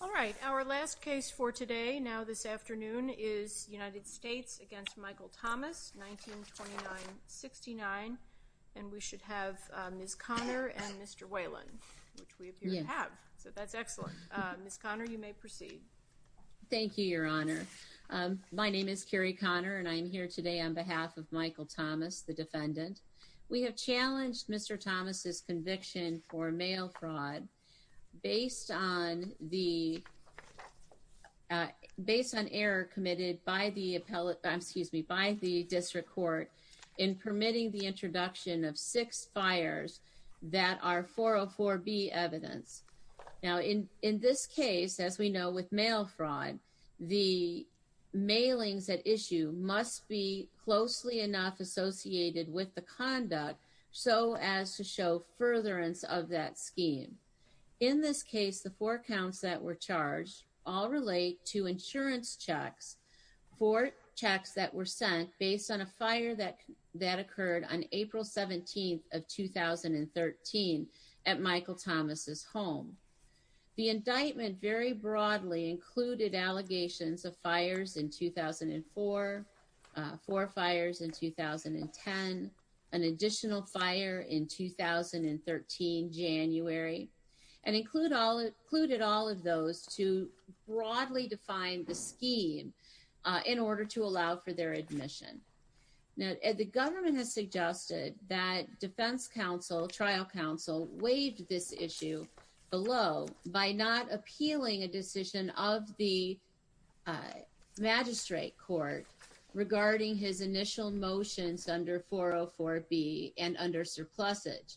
All right, our last case for today, now this afternoon, is United States v. Michael Thomas 1929-69, and we should have Ms. Conner and Mr. Whalen, which we appear to have, so that's excellent. Ms. Conner, you may proceed. Thank you, Your Honor. My name is Carrie Conner, and I am here today on behalf of Michael Thomas, the defendant. We have challenged Mr. Thomas' conviction for mail fraud based on error committed by the District Court in permitting the introduction of six fires that are 404B evidence. Now, in this case, as we know with mail fraud, the mailings at issue must be closely enough associated with the conduct so as to show furtherance of that scheme. In this case, the four counts that were charged all relate to insurance checks for checks that were sent based on a fire that occurred on April 17th of 2013 at Michael Thomas' home. The indictment very broadly included allegations of fires in 2004, four fires in 2010, an additional fire in 2013, January, and included all of those to broadly define the scheme in order to allow for their admission. Now, the government has suggested that defense counsel, trial counsel, waived this issue below by not appealing a decision of the magistrate court regarding his initial motions under 404B and under surplusage.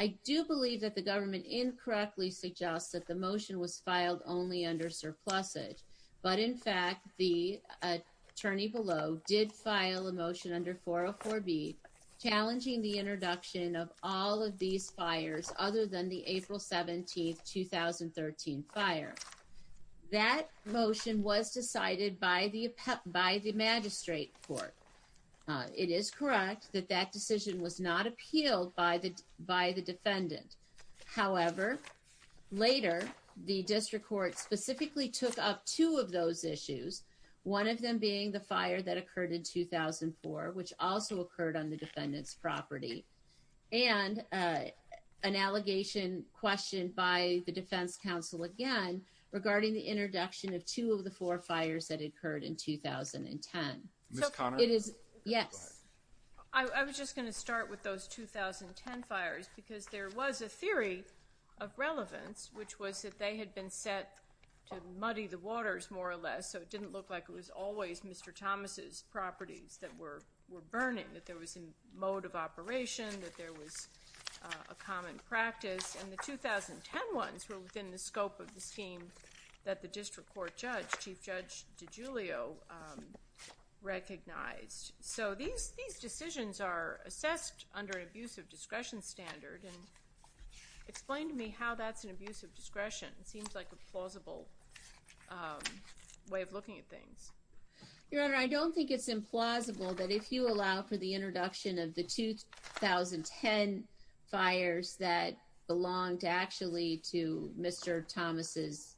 I do believe that the government incorrectly suggests that the motion was filed only under surplusage, but in fact, the attorney below did file a motion under 404B challenging the introduction of all of these fires other than the April 17th, 2013 fire. That motion was decided by the magistrate court. It is correct that that decision was not appealed by the defendant. However, later, the district court specifically took up two of those issues, one of them being the fire that occurred in 2004, which also occurred on the defendant's property, and an allegation questioned by the defense counsel again regarding the introduction of two of the four fires that occurred in 2010. Ms. Conner? Yes. I was just going to start with those 2010 fires because there was a theory of relevance, which was that they had been set to muddy the waters, more or less, so it didn't look like it was always Mr. Thomas's properties that were burning, that there was a mode of operation, that there was a common practice. And the 2010 ones were within the scope of the scheme that the district court judge, Chief Judge DiGiulio, recognized. So these decisions are assessed under an abuse of discretion standard, and explain to me how that's an abuse of discretion. It seems like a plausible way of looking at things. Your Honor, I don't think it's implausible that if you allow for the introduction of the 2010 fires that belonged actually to Mr. Thomas's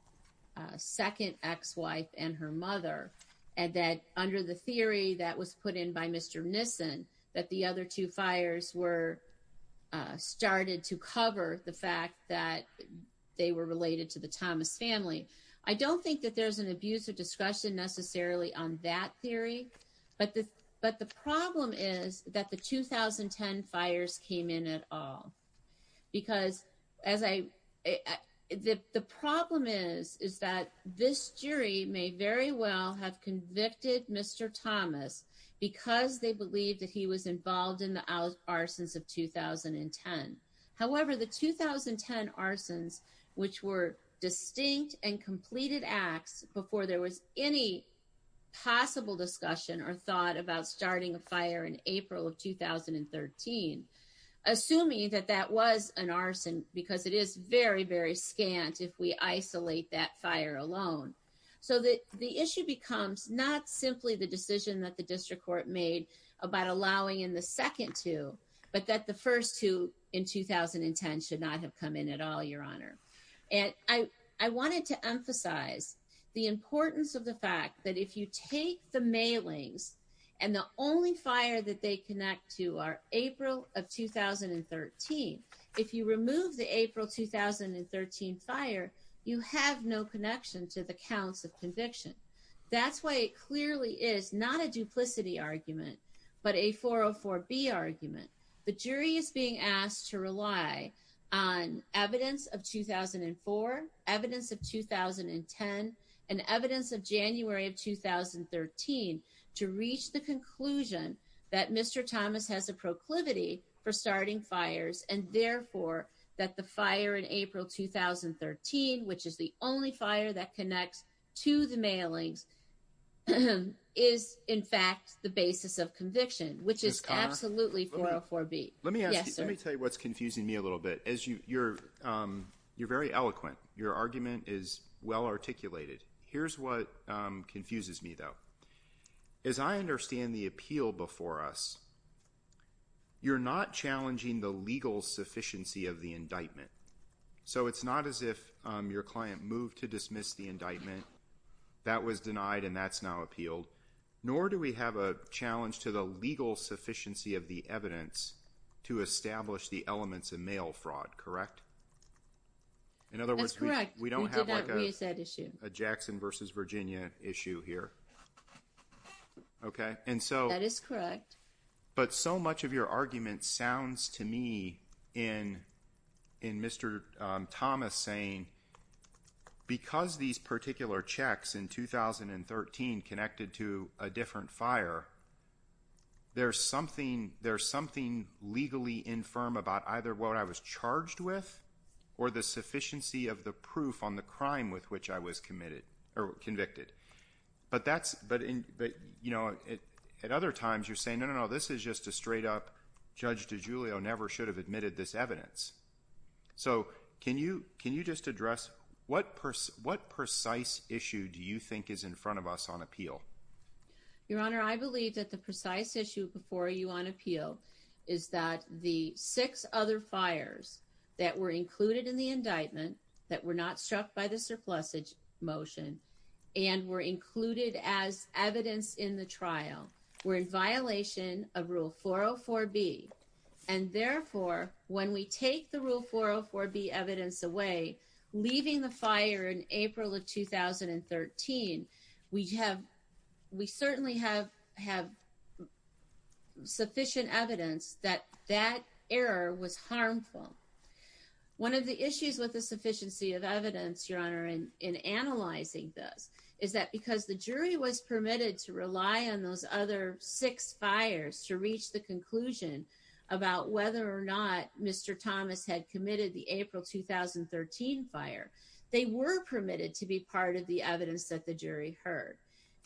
second ex-wife and her mother, and that under the theory that was put in by Mr. Nissen, that the other two fires were started to cover the fact that they were related to the Thomas family. I don't think that there's an abuse of discretion necessarily on that theory, but the problem is that the 2010 fires came in at all. Because as I, the problem is, is that this jury may very well have convicted Mr. Thomas because they believe that he was involved in the arsons of 2010. However, the 2010 arsons, which were distinct and completed acts before there was any possible discussion or thought about starting a fire in April of 2013, assuming that that was an arson because it is very, very scant if we isolate that fire alone. So the issue becomes not simply the decision that the district court made about allowing in the second two, but that the first two in 2010 should not have come in at all, Your Honor. And I wanted to emphasize the importance of the fact that if you take the mailings and the only fire that they connect to are April of 2013, if you remove the April 2013 fire, you have no connection to the counts of conviction. That's why it clearly is not a duplicity argument, but a 404B argument. The jury is being asked to rely on evidence of 2004, evidence of 2010, and evidence of January of 2013 to reach the conclusion that Mr. Thomas has a proclivity for starting fires and therefore that the fire in April 2013, which is the only fire that connects to the mailings, is in fact the basis of conviction. Which is absolutely 404B. Yes, sir. Let me tell you what's confusing me a little bit. You're very eloquent. Your argument is well articulated. Here's what confuses me, though. As I understand the appeal before us, you're not challenging the legal sufficiency of the indictment. So it's not as if your client moved to dismiss the indictment. That was denied and that's now appealed. Nor do we have a challenge to the legal sufficiency of the evidence to establish the elements of mail fraud, correct? That's correct. We don't have a Jackson v. Virginia issue here. That is correct. But so much of your argument sounds to me in Mr. Thomas saying because these particular checks in 2013 connected to a different fire, there's something legally infirm about either what I was charged with or the sufficiency of the proof on the crime with which I was convicted. But at other times you're saying, no, no, no, this is just a straight up judge DeGiulio never should have admitted this evidence. So can you just address what precise issue do you think is in front of us on appeal? Your Honor, I believe that the precise issue before you on appeal is that the six other fires that were included in the indictment that were not struck by the surplus motion and were included as evidence in the trial were in violation of Rule 404B. And therefore, when we take the Rule 404B evidence away, leaving the fire in April of 2013, we certainly have sufficient evidence that that error was harmful. One of the issues with the sufficiency of evidence, Your Honor, in analyzing this is that because the jury was permitted to rely on those other six fires to reach the conclusion about whether or not Mr. Thomas had committed the April 2013 fire, they were permitted to be part of the evidence that the jury heard.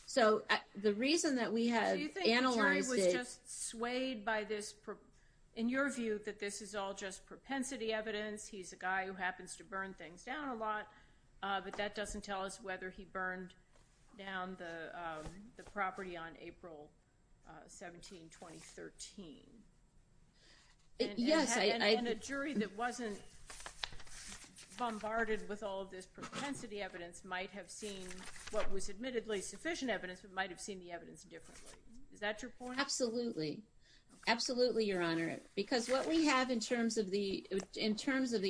So the reason that we had analyzed it – Do you think the jury was just swayed by this – in your view, that this is all just propensity evidence? He's a guy who happens to burn things down a lot, but that doesn't tell us whether he burned down the property on April 17, 2013. Yes, I – And a jury that wasn't bombarded with all of this propensity evidence might have seen what was admittedly sufficient evidence, but might have seen the evidence differently. Is that your point? Absolutely. Absolutely, Your Honor, because what we have in terms of the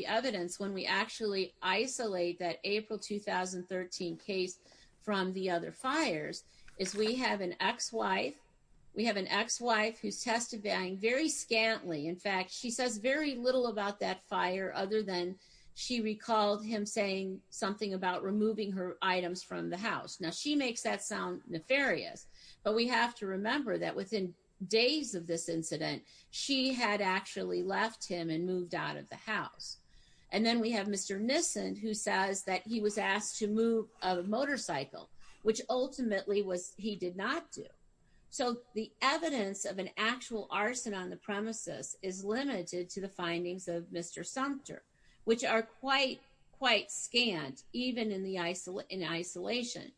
evidence when we actually isolate that April 2013 case from the other fires is we have an ex-wife. We have an ex-wife who's testifying very scantily. In fact, she says very little about that fire other than she recalled him saying something about removing her items from the house. Now, she makes that sound nefarious, but we have to remember that within days of this incident, she had actually left him and moved out of the house. And then we have Mr. Nissen who says that he was asked to move a motorcycle, which ultimately he did not do. So the evidence of an actual arson on the premises is limited to the findings of Mr. Sumter, which are quite, quite scant, even in isolation,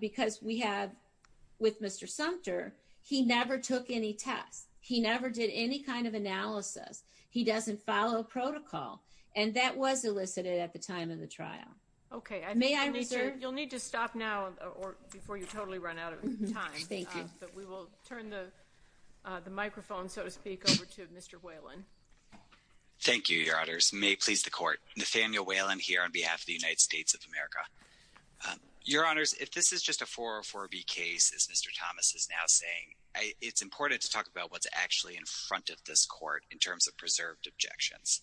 because we have – with Mr. Sumter, he never took any tests. He never did any kind of analysis. He doesn't follow protocol, and that was elicited at the time of the trial. Okay, I think you'll need to stop now before you totally run out of time. Thank you. But we will turn the microphone, so to speak, over to Mr. Whalen. Thank you, Your Honors. May it please the Court. Nathaniel Whalen here on behalf of the United States of America. Your Honors, if this is just a 404B case, as Mr. Thomas is now saying, it's important to talk about what's actually in front of this Court in terms of preserved objections.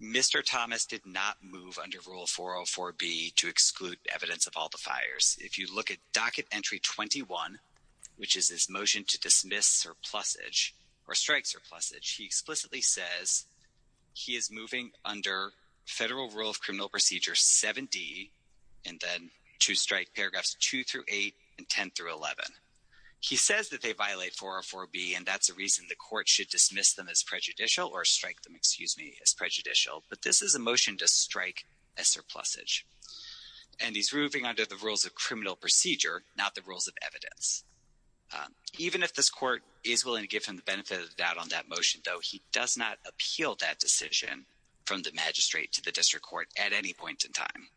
Mr. Thomas did not move under Rule 404B to exclude evidence of all the fires. If you look at Docket Entry 21, which is his motion to dismiss surplusage or strike surplusage, he explicitly says he is moving under Federal Rule of Criminal Procedure 7D and then to strike paragraphs 2 through 8 and 10 through 11. He says that they violate 404B, and that's a reason the Court should dismiss them as prejudicial or strike them, excuse me, as prejudicial. But this is a motion to strike a surplusage. And he's moving under the Rules of Criminal Procedure, not the Rules of Evidence. Even if this Court is willing to give him the benefit of the doubt on that motion, though, he does not appeal that decision from the magistrate to the district court at any point in time.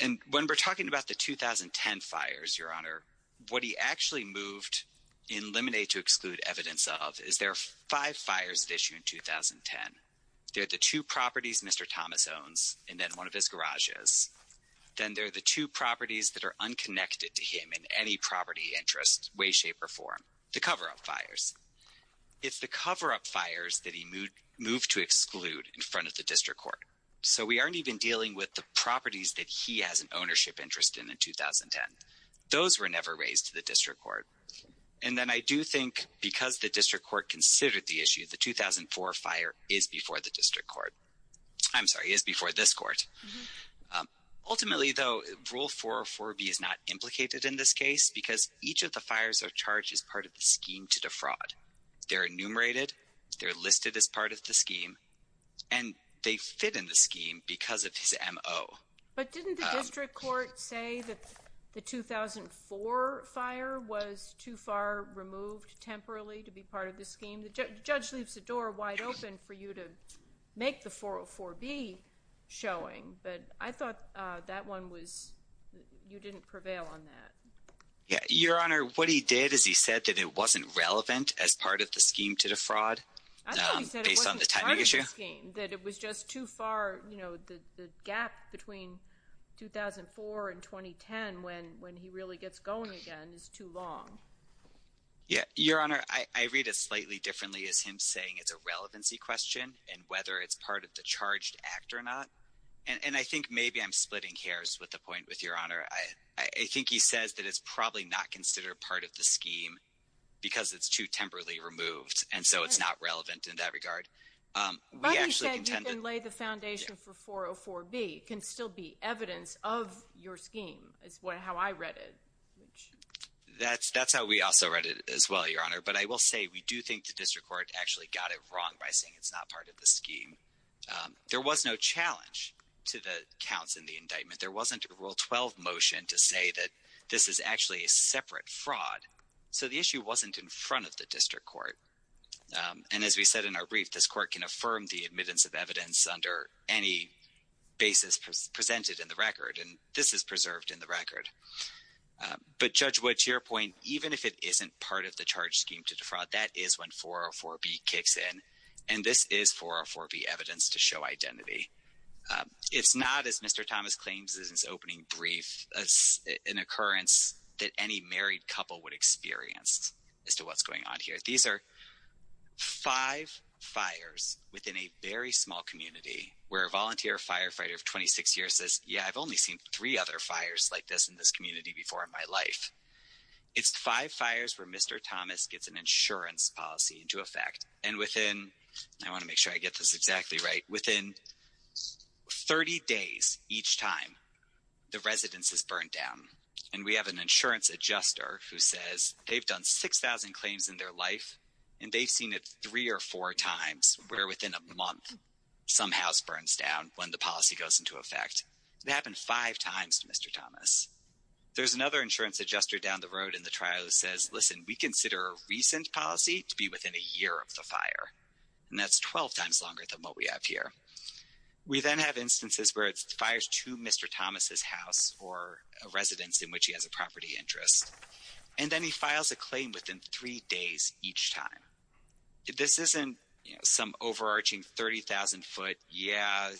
And when we're talking about the 2010 fires, Your Honor, what he actually moved in Lemonade to exclude evidence of is there are five fires at issue in 2010. There are the two properties Mr. Thomas owns and then one of his garages. Then there are the two properties that are unconnected to him in any property interest, way, shape, or form, the cover-up fires. It's the cover-up fires that he moved to exclude in front of the district court. So we aren't even dealing with the properties that he has an ownership interest in in 2010. Those were never raised to the district court. And then I do think because the district court considered the issue, the 2004 fire is before the district court. I'm sorry, is before this court. Ultimately, though, Rule 404B is not implicated in this case because each of the fires are charged as part of the scheme to defraud. They're enumerated, they're listed as part of the scheme, and they fit in the scheme because of his MO. But didn't the district court say that the 2004 fire was too far removed temporarily to be part of the scheme? The judge leaves the door wide open for you to make the 404B showing. But I thought that one was you didn't prevail on that. Your Honor, what he did is he said that it wasn't relevant as part of the scheme to defraud. I thought he said it wasn't part of the scheme, that it was just too far. You know, the gap between 2004 and 2010 when when he really gets going again is too long. Yeah, Your Honor, I read it slightly differently as him saying it's a relevancy question and whether it's part of the charged act or not. And I think maybe I'm splitting hairs with the point with Your Honor. I think he says that it's probably not considered part of the scheme because it's too temporarily removed. And so it's not relevant in that regard. But he said you can lay the foundation for 404B can still be evidence of your scheme is how I read it. That's that's how we also read it as well, Your Honor. But I will say we do think the district court actually got it wrong by saying it's not part of the scheme. There was no challenge to the counts in the indictment. There wasn't a Rule 12 motion to say that this is actually a separate fraud. So the issue wasn't in front of the district court. And as we said in our brief, this court can affirm the admittance of evidence under any basis presented in the record. And this is preserved in the record. But, Judge Wood, to your point, even if it isn't part of the charge scheme to defraud, that is when 404B kicks in. And this is 404B evidence to show identity. It's not, as Mr. Thomas claims in his opening brief, an occurrence that any married couple would experience as to what's going on here. These are five fires within a very small community where a volunteer firefighter of 26 years says, yeah, I've only seen three other fires like this in this community before in my life. It's five fires where Mr. Thomas gets an insurance policy into effect. And within, I want to make sure I get this exactly right, within 30 days each time, the residence is burned down. And we have an insurance adjuster who says they've done 6,000 claims in their life. And they've seen it three or four times where within a month, some house burns down when the policy goes into effect. It happened five times to Mr. Thomas. There's another insurance adjuster down the road in the trial who says, listen, we consider a recent policy to be within a year of the fire. And that's 12 times longer than what we have here. We then have instances where it fires to Mr. Thomas's house or a residence in which he has a property interest. And then he files a claim within three days each time. This isn't some overarching 30,000 foot, yeah,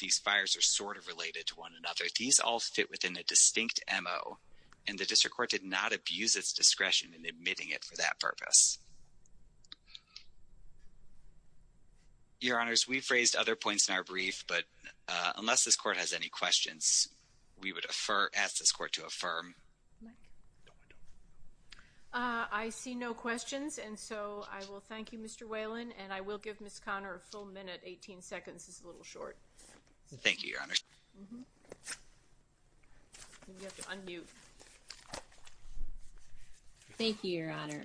these fires are sort of related to one another. These all fit within a distinct MO. And the district court did not abuse its discretion in admitting it for that purpose. Your Honors, we've raised other points in our brief. But unless this court has any questions, we would ask this court to affirm. I see no questions. And so I will thank you, Mr. Whalen. And I will give Ms. Conner a full minute. 18 seconds is a little short. Thank you, Your Honors. Thank you, Your Honor.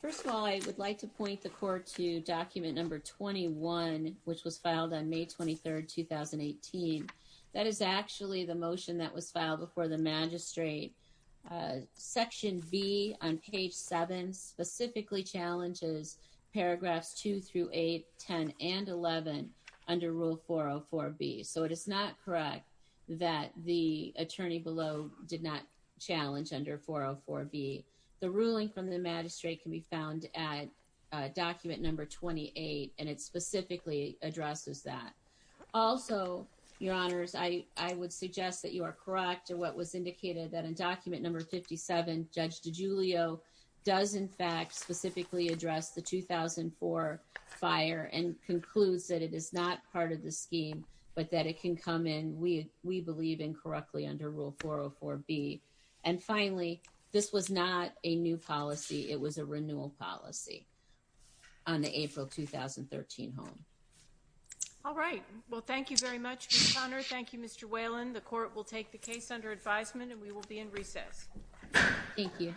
First of all, I would like to point the court to document number 21, which was filed on May 23, 2018. That is actually the motion that was filed before the magistrate. Section B on page 7 specifically challenges paragraphs 2 through 8, 10, and 11 under rule 404B. So it is not correct that the attorney below did not challenge under 404B. The ruling from the magistrate can be found at document number 28, and it specifically addresses that. Also, Your Honors, I would suggest that you are correct in what was indicated, that in document number 57, Judge DiGiulio does, in fact, specifically address the 2004 fire and concludes that it is not part of the scheme, but that it can come in, we believe, incorrectly under rule 404B. And finally, this was not a new policy. It was a renewal policy on the April 2013 home. All right. Well, thank you very much, Ms. Conner. Thank you, Mr. Whalen. The court will take the case under advisement, and we will be in recess. Thank you.